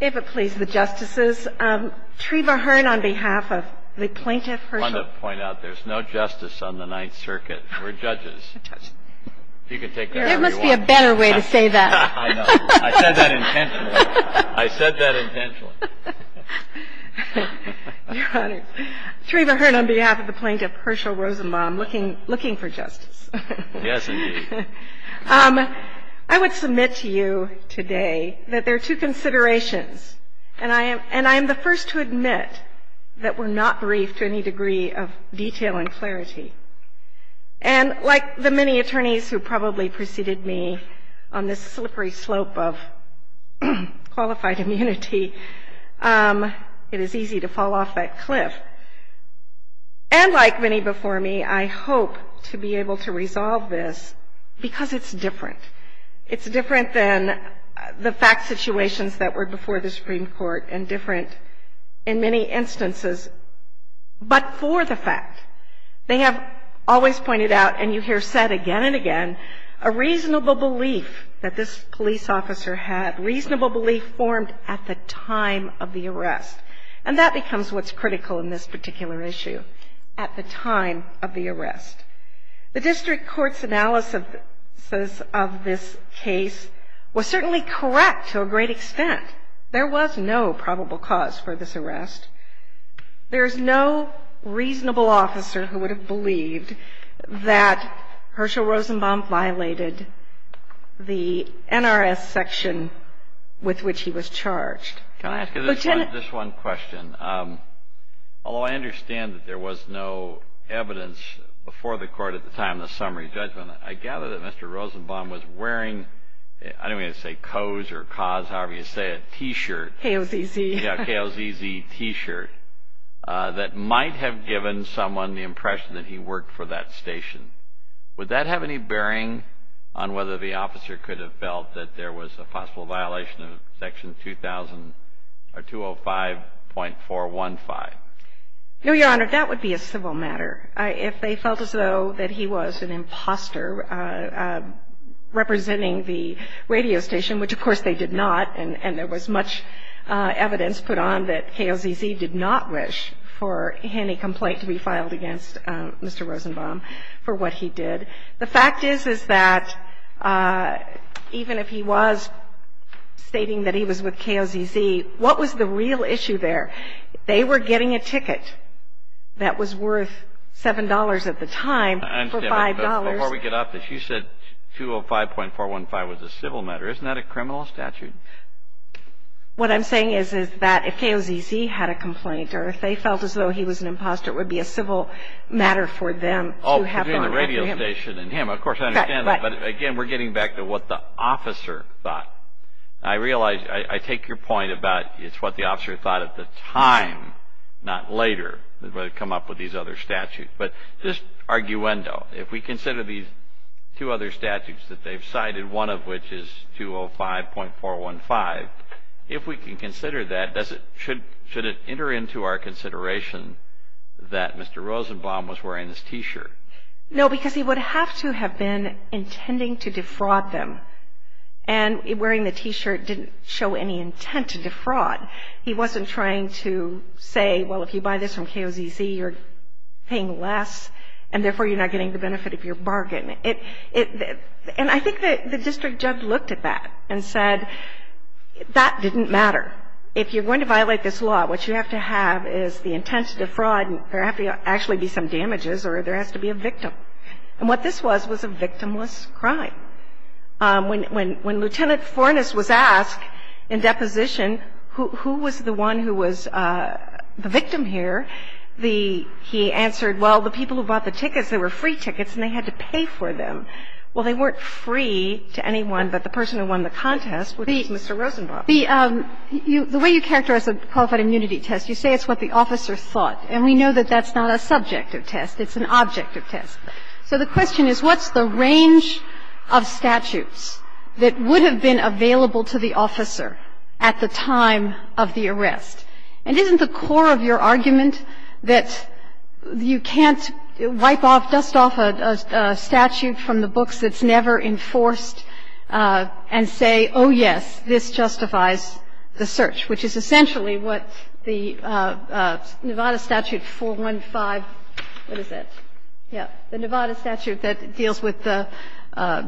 If it pleases the Justices, Treva Hearn on behalf of the Plaintiff Hershel Rosenbaum looking for justice, I would submit to you today that there are two considerations. And I am the first to admit that we're not briefed to any degree of detail and clarity. And like the many attorneys who probably preceded me on this slippery slope of qualified immunity, it is easy to fall off that cliff. And like many before me, I hope to be able to resolve this because it's different. It's different than the fact situations that were before the Supreme Court and different in many instances, but for the fact. They have always pointed out, and you hear said again and again, a reasonable belief that this police officer had, a reasonable belief formed at the time of the arrest. And that becomes what's critical in this particular issue, at the time of the arrest. The district court's analysis of this case was certainly correct to a great extent. There was no probable cause for this arrest. There is no reasonable officer who would have believed that Hershel Rosenbaum violated the NRS section with which he was charged. Can I ask you this one question? Although I understand that there was no evidence before the court at the time of the summary judgment, I gather that Mr. Rosenbaum was wearing, I don't mean to say COS or COS, however you say it, a T-shirt. KOZZ. KOZZ T-shirt that might have given someone the impression that he worked for that station. Would that have any bearing on whether the officer could have felt that there was a possible violation of Section 2005.415? No, Your Honor, that would be a civil matter. If they felt as though that he was an imposter representing the radio station, which of course they did not, and there was much evidence put on that KOZZ did not wish for any complaint to be filed against Mr. Rosenbaum for what he did. The fact is, is that even if he was stating that he was with KOZZ, what was the real issue there? They were getting a ticket that was worth $7 at the time for $5. Before we get off this, you said 205.415 was a civil matter. Isn't that a criminal statute? What I'm saying is, is that if KOZZ had a complaint or if they felt as though he was an imposter, it would be a civil matter for them. Oh, between the radio station and him, of course I understand that. But again, we're getting back to what the officer thought. I realize, I take your point about it's what the officer thought at the time, not later, when they come up with these other statutes. But just arguendo, if we consider these two other statutes that they've cited, one of which is 205.415, if we can consider that, should it enter into our consideration that Mr. Rosenbaum was wearing this T-shirt? No, because he would have to have been intending to defraud them. And wearing the T-shirt didn't show any intent to defraud. He wasn't trying to say, well, if you buy this from KOZZ, you're paying less, and therefore, you're not getting the benefit of your bargain. And I think the district judge looked at that and said, that didn't matter. If you're going to violate this law, what you have to have is the intent to defraud, and there have to actually be some damages or there has to be a victim. And what this was was a victimless crime. When Lt. Forness was asked in deposition who was the one who was the victim here, the he answered, well, the people who bought the tickets, they were free tickets and they had to pay for them. Well, they weren't free to anyone but the person who won the contest, which was Mr. Rosenbaum. The way you characterize a qualified immunity test, you say it's what the officer thought, and we know that that's not a subjective test, it's an objective test. So the question is, what's the range of statutes that would have been available to the officer at the time of the arrest? And isn't the core of your argument that you can't wipe off, dust off a statute from the books that's never enforced and say, oh, yes, this justifies the search, which is essentially what the Nevada Statute 415, what is that? Yeah. The Nevada Statute that deals with the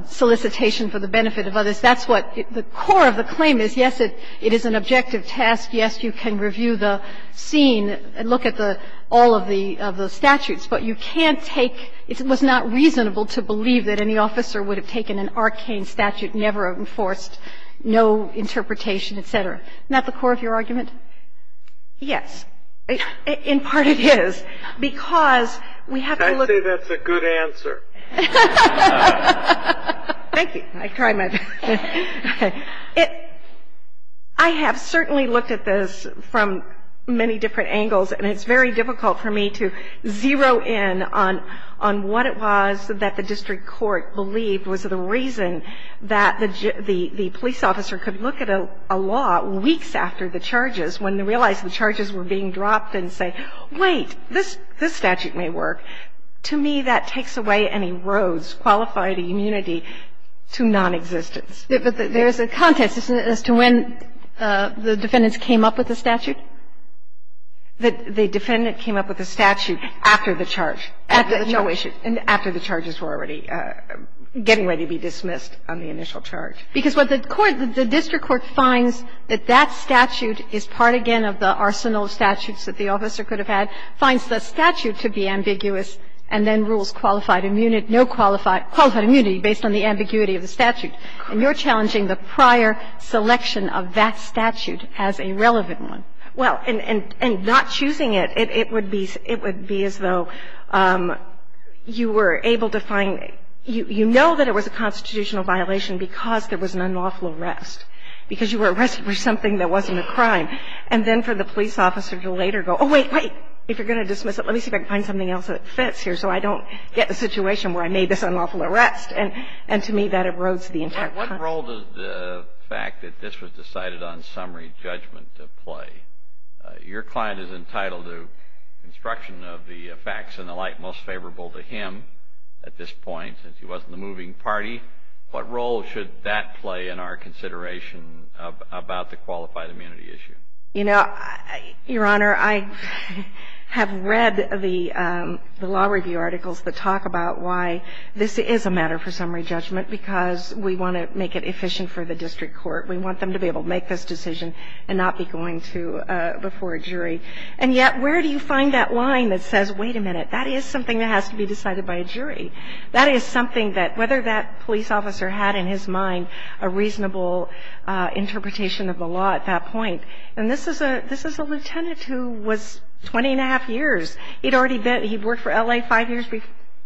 solicitation for the benefit of others. That's what the core of the claim is. Yes, it is an objective test. Yes, you can review the scene and look at all of the statutes, but you can't take – it was not reasonable to believe that any officer would have taken an arcane statute never enforced, no interpretation, et cetera. Isn't that the core of your argument? Yes. In part, it is, because we have to look – I say that's a good answer. Thank you. I try my best. Okay. I have certainly looked at this from many different angles, and it's very difficult for me to zero in on what it was that the district court believed was the reason that the police officer could look at a law weeks after the charges when they realized the charges were being dropped and say, wait, this statute may work. To me, that takes away and erodes qualified immunity to nonexistence. But there is a context, isn't it, as to when the defendants came up with the statute? The defendant came up with the statute after the charge. After the charge. No issue. After the charges were already getting ready to be dismissed on the initial charge. Because what the court – the district court finds that that statute is part again of the arsenal of statutes that the officer could have had, finds the statute to be ambiguous, and then rules qualified immunity, no qualified – qualified immunity based on the ambiguity of the statute. And you're challenging the prior selection of that statute as a relevant one. Well, and not choosing it, it would be as though you were able to find – you know that it was a constitutional violation because there was an unlawful arrest. Because you were arrested for something that wasn't a crime. And then for the police officer to later go, oh, wait, wait, if you're going to dismiss it, let me see if I can find something else that fits here so I don't get the situation where I made this unlawful arrest. And to me, that erodes the entire crime. What role does the fact that this was decided on summary judgment play? Your client is entitled to instruction of the facts and the light most favorable to him at this point since he wasn't the moving party. What role should that play in our consideration about the qualified immunity issue? You know, Your Honor, I have read the law review articles that talk about why this is a matter for summary judgment because we want to make it efficient for the district court. We want them to be able to make this decision and not be going to – before a jury. And yet, where do you find that line that says, wait a minute, that is something that has to be decided by a jury? That is something that whether that police officer had in his mind a reasonable interpretation of the law at that point. And this is a lieutenant who was 20-and-a-half years. He'd already been – he'd worked for L.A. five years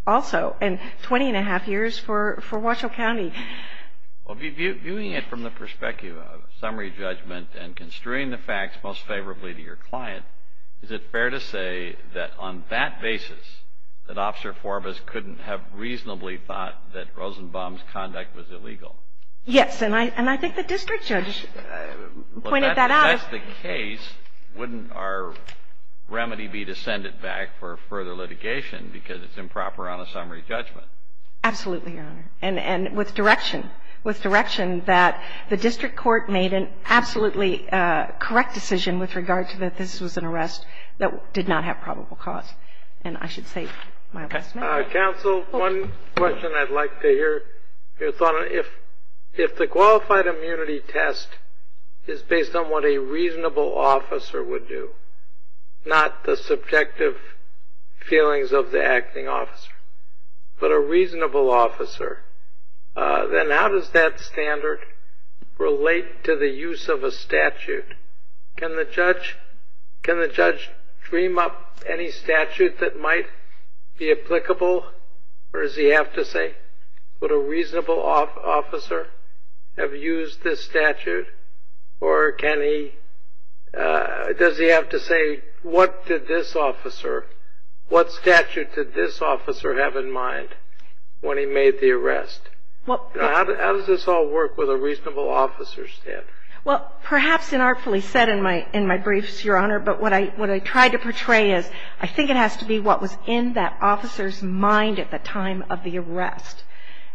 also and 20-and-a-half years for Washoe County. Well, viewing it from the perspective of summary judgment and construing the facts most reasonably thought that Rosenbaum's conduct was illegal. Yes. And I think the district judge pointed that out. Well, if that's the case, wouldn't our remedy be to send it back for further litigation because it's improper on a summary judgment? Absolutely, Your Honor. And with direction, with direction that the district court made an absolutely correct decision with regard to that this was an arrest that did not have probable cause. And I should say my last comment. Counsel, one question I'd like to hear your thought on. If the qualified immunity test is based on what a reasonable officer would do, not the subjective feelings of the acting officer, but a reasonable officer, then how does that standard relate to the use of a statute? Can the judge dream up any statute that might be applicable, or does he have to say, would a reasonable officer have used this statute? Or does he have to say, what did this officer, what statute did this officer have in mind when he made the arrest? How does this all work with a reasonable officer standard? Well, perhaps inartfully said in my briefs, Your Honor, but what I tried to portray is I think it has to be what was in that officer's mind at the time of the arrest.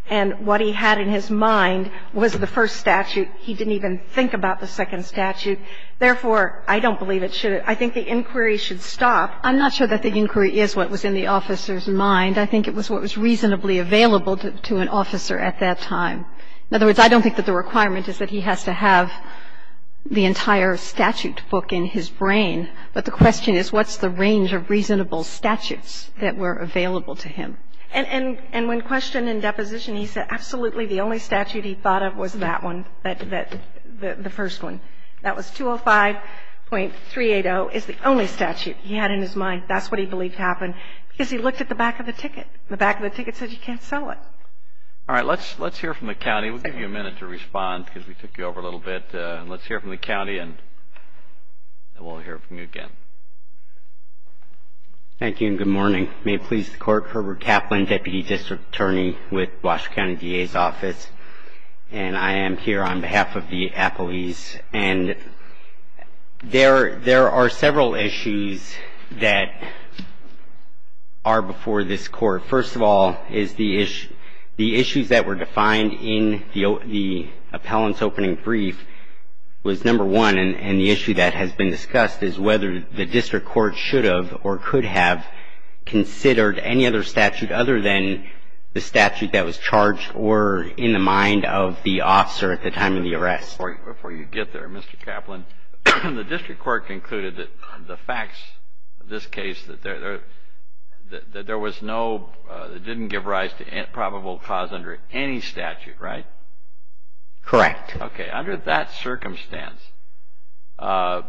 And what he had in his mind was the first statute. He didn't even think about the second statute. Therefore, I don't believe it should. I think the inquiry should stop. I'm not sure that the inquiry is what was in the officer's mind. I think it was what was reasonably available to an officer at that time. In other words, I don't think that the requirement is that he has to have the entire statute book in his brain, but the question is what's the range of reasonable statutes that were available to him. And when questioned in deposition, he said absolutely the only statute he thought of was that one, the first one. That was 205.380 is the only statute he had in his mind. That's what he believed happened because he looked at the back of the ticket. The back of the ticket said you can't sell it. All right. Let's hear from the county. We'll give you a minute to respond because we took you over a little bit. Let's hear from the county and then we'll hear from you again. Thank you and good morning. May it please the Court. Herbert Kaplan, Deputy District Attorney with Washoe County DA's Office. And I am here on behalf of the appellees. And there are several issues that are before this Court. First of all is the issues that were defined in the appellant's opening brief was number one. And the issue that has been discussed is whether the district court should have or could have considered any other statute other than the statute that was charged or in the mind of the officer at the time of the arrest. Before you get there, Mr. Kaplan, the district court concluded that the facts of this case, that there was no, that it didn't give rise to probable cause under any statute, right? Correct. Okay. Under that circumstance, how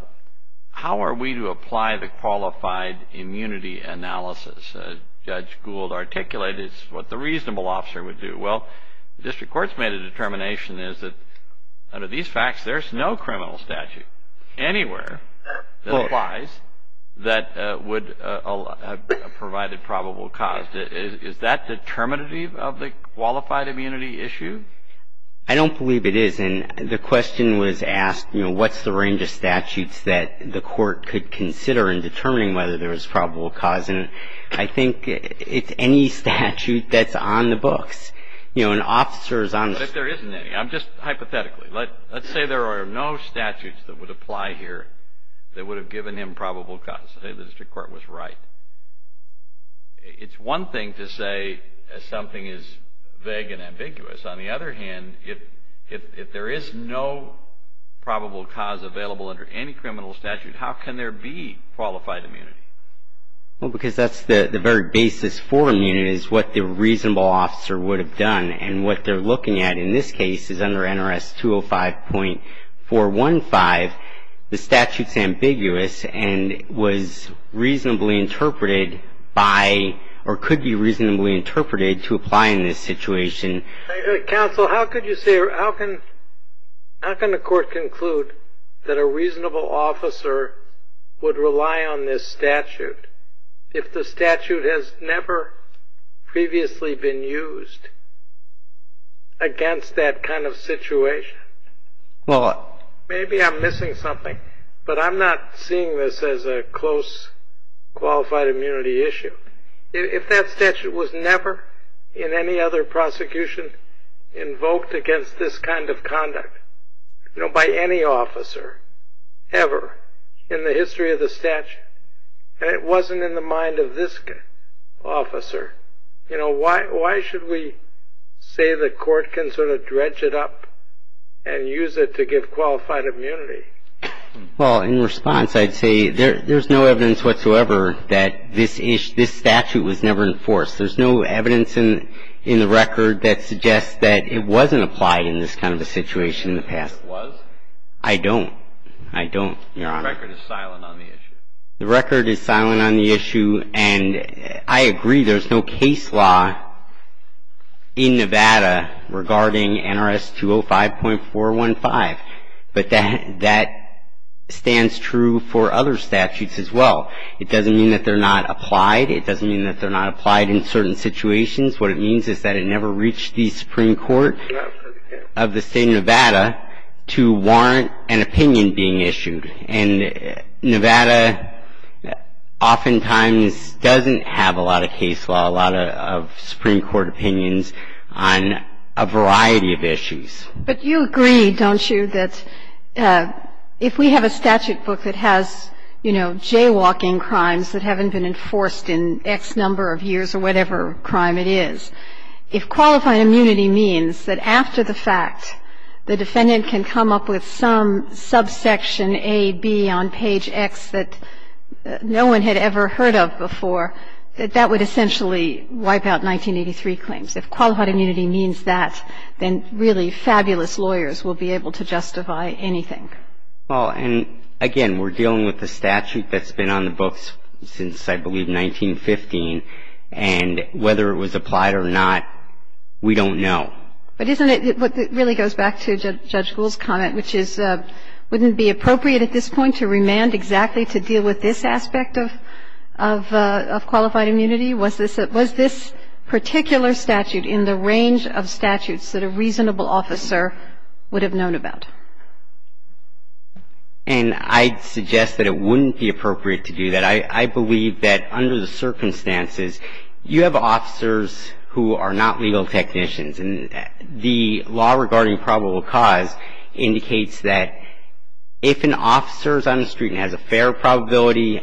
are we to apply the qualified immunity analysis? Judge Gould articulated what the reasonable officer would do. Well, the district court's made a determination is that under these facts, there's no criminal statute anywhere that applies that would have provided probable cause. Is that determinative of the qualified immunity issue? I don't believe it is. And the question was asked, you know, what's the range of statutes that the court could consider in determining whether there was probable cause. And I think it's any statute that's on the books. You know, an officer is on the books. But if there isn't any, I'm just hypothetically. Let's say there are no statutes that would apply here that would have given him probable cause. Say the district court was right. It's one thing to say something is vague and ambiguous. On the other hand, if there is no probable cause available under any criminal statute, how can there be qualified immunity? Well, because that's the very basis for immunity is what the reasonable officer would have done. And what they're looking at in this case is under NRS 205.415, the statute's ambiguous and was reasonably interpreted by or could be reasonably interpreted to apply in this situation. Counsel, how could you say or how can the court conclude that a reasonable officer would rely on this statute if the statute has never previously been used against that kind of situation? Well, maybe I'm missing something, but I'm not seeing this as a close qualified immunity issue. If that statute was never in any other prosecution invoked against this kind of conduct, by any officer ever in the history of the statute, and it wasn't in the mind of this officer, why should we say the court can sort of dredge it up and use it to give qualified immunity? Well, in response, I'd say there's no evidence whatsoever that this statute was never enforced. There's no evidence in the record that suggests that it wasn't applied in this kind of a situation in the past. It was? I don't. I don't, Your Honor. The record is silent on the issue. The record is silent on the issue. And I agree there's no case law in Nevada regarding NRS 205.415. But that stands true for other statutes as well. It doesn't mean that they're not applied. It doesn't mean that they're not applied in certain situations. What it means is that it never reached the Supreme Court of the state of Nevada to warrant an opinion being issued. And Nevada oftentimes doesn't have a lot of case law, a lot of Supreme Court opinions on a variety of issues. But you agree, don't you, that if we have a statute book that has, you know, jaywalking crimes that haven't been enforced in X number of years or whatever crime it is, if qualified immunity means that after the fact the defendant can come up with some subsection A, B on page X that no one had ever heard of before, that that would essentially wipe out 1983 claims. If qualified immunity means that, then really fabulous lawyers will be able to justify anything. Well, and again, we're dealing with a statute that's been on the books since I believe 1915. And whether it was applied or not, we don't know. But isn't it what really goes back to Judge Gould's comment, which is wouldn't it be appropriate at this point to remand exactly to deal with this aspect of qualified immunity? Was this particular statute in the range of statutes that a reasonable officer would have known about? And I'd suggest that it wouldn't be appropriate to do that. I believe that under the circumstances, you have officers who are not legal technicians. And the law regarding probable cause indicates that if an officer is on the street and has a fair probability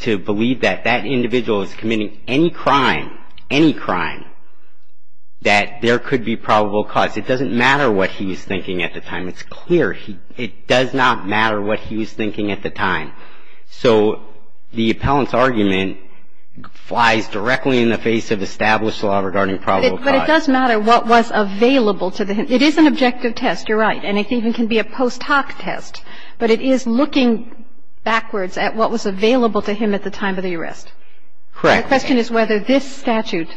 to believe that that individual is committing any crime, any crime, that there could be probable cause. It doesn't matter what he was thinking at the time. It's clear. It does not matter what he was thinking at the time. So the appellant's argument flies directly in the face of established law regarding probable cause. But it does matter what was available to the him. It is an objective test. You're right. And it even can be a post hoc test. But it is looking backwards at what was available to him at the time of the arrest. Correct. The question is whether this statute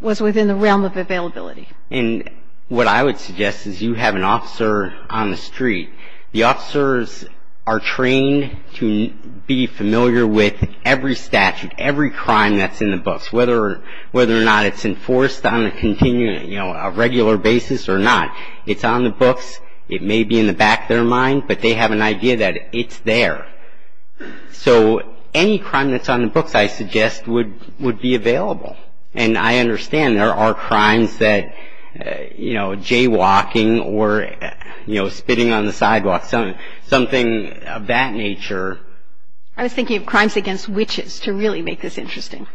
was within the realm of availability. And what I would suggest is you have an officer on the street. The officers are trained to be familiar with every statute, every crime that's in the books, whether or not it's enforced on a regular basis or not. It's on the books. It may be in the back of their mind. But they have an idea that it's there. So any crime that's on the books, I suggest, would be available. And I understand there are crimes that, you know, jaywalking or, you know, spitting on the sidewalk, something of that nature. I was thinking of crimes against witches to really make this interesting.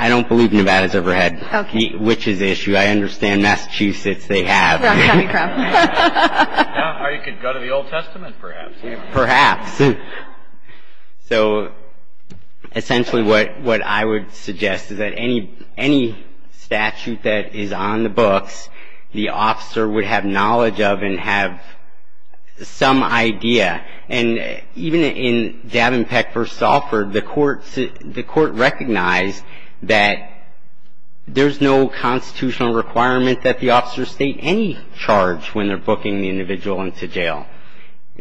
I don't believe Nevada's ever had the witches issue. I understand Massachusetts, they have. I'm talking about coming crime. Or you could go to the Old Testament, perhaps. Perhaps. So essentially what I would suggest is that any statute that is on the books, the officer would have knowledge of and have some idea. And even in Davenport v. Salford, the court recognized that there's no constitutional requirement that the officer state any charge when they're booking the individual into jail.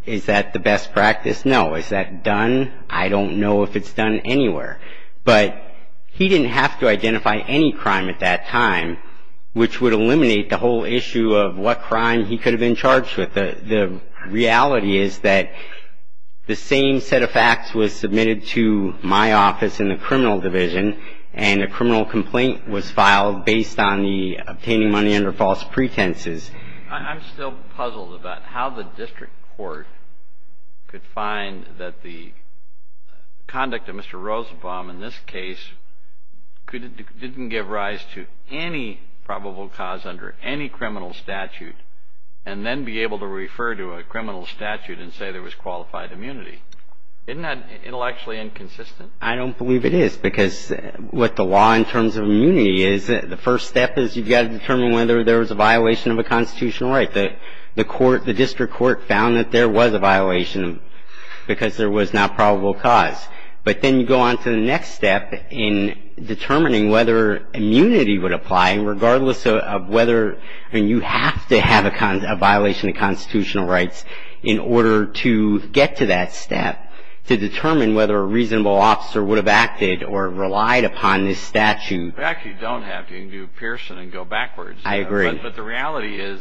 Is that the best practice? No. Is that done? I don't know if it's done anywhere. But he didn't have to identify any crime at that time, which would eliminate the whole issue of what crime he could have been charged with. The reality is that the same set of facts was submitted to my office in the criminal division, and a criminal complaint was filed based on the obtaining money under false pretenses. I'm still puzzled about how the district court could find that the conduct of Mr. Rosenbaum in this case didn't give rise to any probable cause under any criminal statute and then be able to refer to a criminal statute and say there was qualified immunity. Isn't that intellectually inconsistent? I don't believe it is, because what the law in terms of immunity is, the first step is you've got to determine whether there was a violation of a constitutional right. The court, the district court found that there was a violation because there was not probable cause. But then you go on to the next step in determining whether immunity would apply, and regardless of whether, I mean, you have to have a violation of constitutional rights in order to get to that step to determine whether a reasonable officer would have acted or relied upon this statute. In fact, you don't have to. You can do Pearson and go backwards. I agree. But the reality is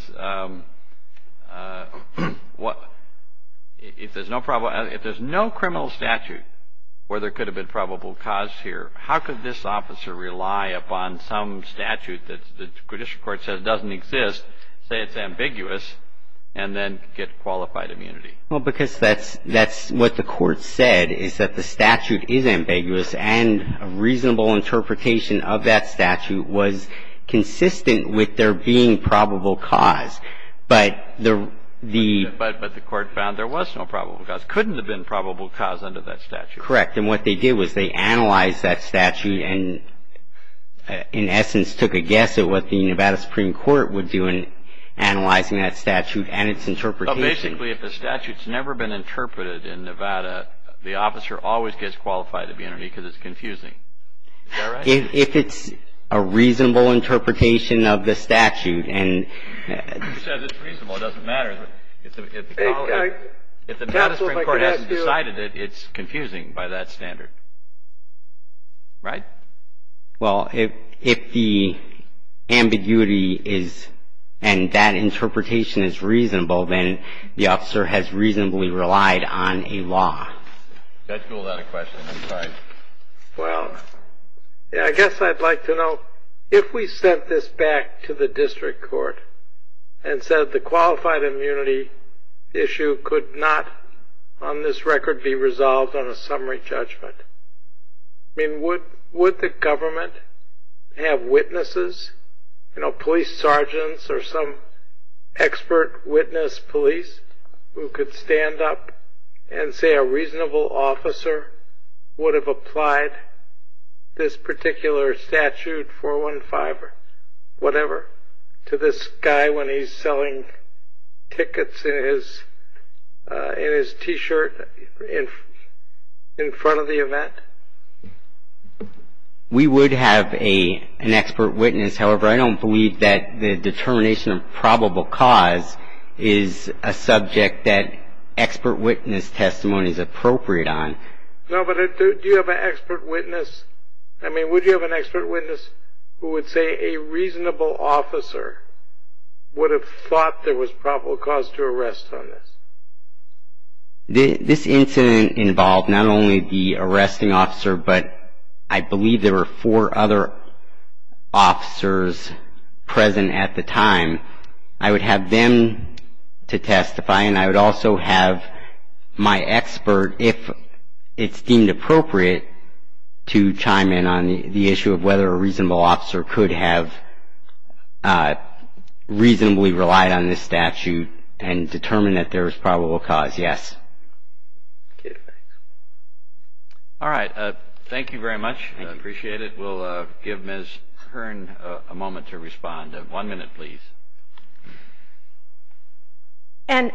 if there's no criminal statute where there could have been probable cause here, how could this officer rely upon some statute that the district court says doesn't exist, say it's ambiguous, and then get qualified immunity? Well, because that's what the court said, is that the statute is ambiguous, and a reasonable interpretation of that statute was consistent with there being probable cause. But the ---- But the court found there was no probable cause. Couldn't have been probable cause under that statute. Correct. And what they did was they analyzed that statute and, in essence, took a guess at what the Nevada Supreme Court would do in analyzing that statute and its interpretation. Well, basically, if the statute's never been interpreted in Nevada, the officer always gets qualified immunity because it's confusing. Is that right? If it's a reasonable interpretation of the statute and ---- You said it's reasonable. It doesn't matter. If the Nevada Supreme Court hasn't decided it, it's confusing by that standard. Right? Well, if the ambiguity is and that interpretation is reasonable, then the officer has reasonably relied on a law. That's a little out of question. I'm sorry. Well, I guess I'd like to know if we sent this back to the district court and said the qualified immunity issue could not, on this record, be resolved on a summary judgment. I mean, would the government have witnesses, you know, police sergeants or some expert witness police who could stand up and say a reasonable officer would have applied this particular statute, whatever, to this guy when he's selling tickets in his T-shirt in front of the event? We would have an expert witness. However, I don't believe that the determination of probable cause is a subject that expert witness testimony is appropriate on. No, but do you have an expert witness? I mean, would you have an expert witness who would say a reasonable officer would have thought there was probable cause to arrest on this? This incident involved not only the arresting officer, but I believe there were four other officers present at the time. I would have them to testify, and I would also have my expert, if it's deemed appropriate, to chime in on the issue of whether a reasonable officer could have reasonably relied on this statute and determined that there was probable cause, yes. All right. Thank you very much. I appreciate it. We'll give Ms. Hearn a moment to respond. One minute, please. And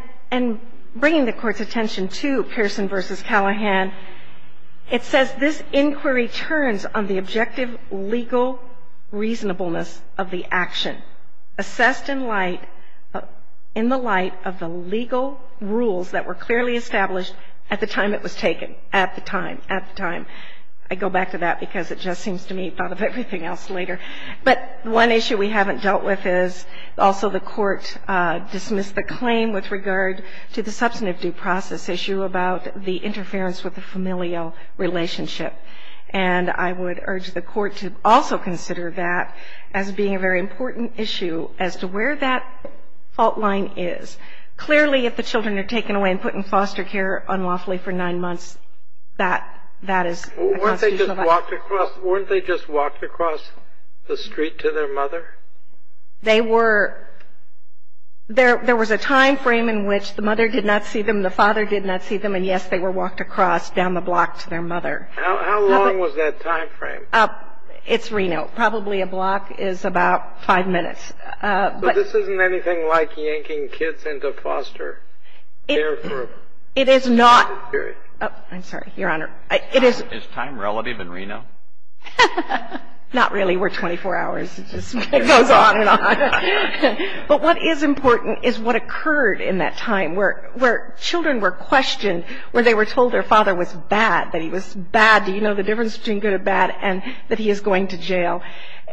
bringing the Court's attention to Pearson v. Callahan, it says, this inquiry turns on the objective legal reasonableness of the action assessed in light of the legal rules that were clearly established at the time it was taken. At the time. At the time. I go back to that because it just seems to me, thought of everything else later. But one issue we haven't dealt with is also the Court dismissed the claim with regard to the substantive due process issue about the interference with the familial relationship. And I would urge the Court to also consider that as being a very important issue as to where that fault line is. Clearly, if the children are taken away and put in foster care unlawfully for nine months, that is a constitutional violation. And the reason why they need to be taken away and put in foster care is simply because they're under the influence of their parents. If they were walked across, weren't they just walked across the street to their mother? They were — there was a timeframe in which the mother did not see them, the father did not see them, and yes, they were walked across down the block to their mother. How long was that timeframe? It's Reno. Probably a block is about five minutes. But this isn't anything like yanking kids into foster care for a period. It is not. I'm sorry, Your Honor. Is time relative in Reno? Not really. We're 24 hours. It just goes on and on. But what is important is what occurred in that time where children were questioned, where they were told their father was bad, that he was bad. Do you know the difference between good and bad? And that he is going to jail.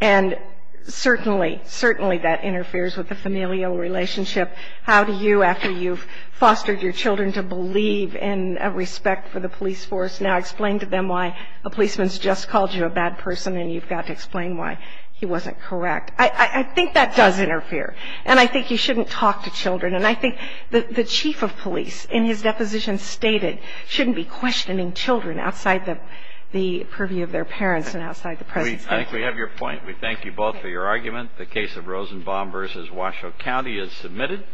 And certainly, certainly that interferes with the familial relationship. How do you, after you've fostered your children to believe in a respect for the police force, now explain to them why a policeman's just called you a bad person and you've got to explain why he wasn't correct? I think that does interfere. And I think you shouldn't talk to children. And I think the chief of police, in his deposition stated, shouldn't be questioning children outside the purview of their parents and outside the president. I think we have your point. We thank you both for your argument. The case of Rosenbaum v. Washoe County is submitted.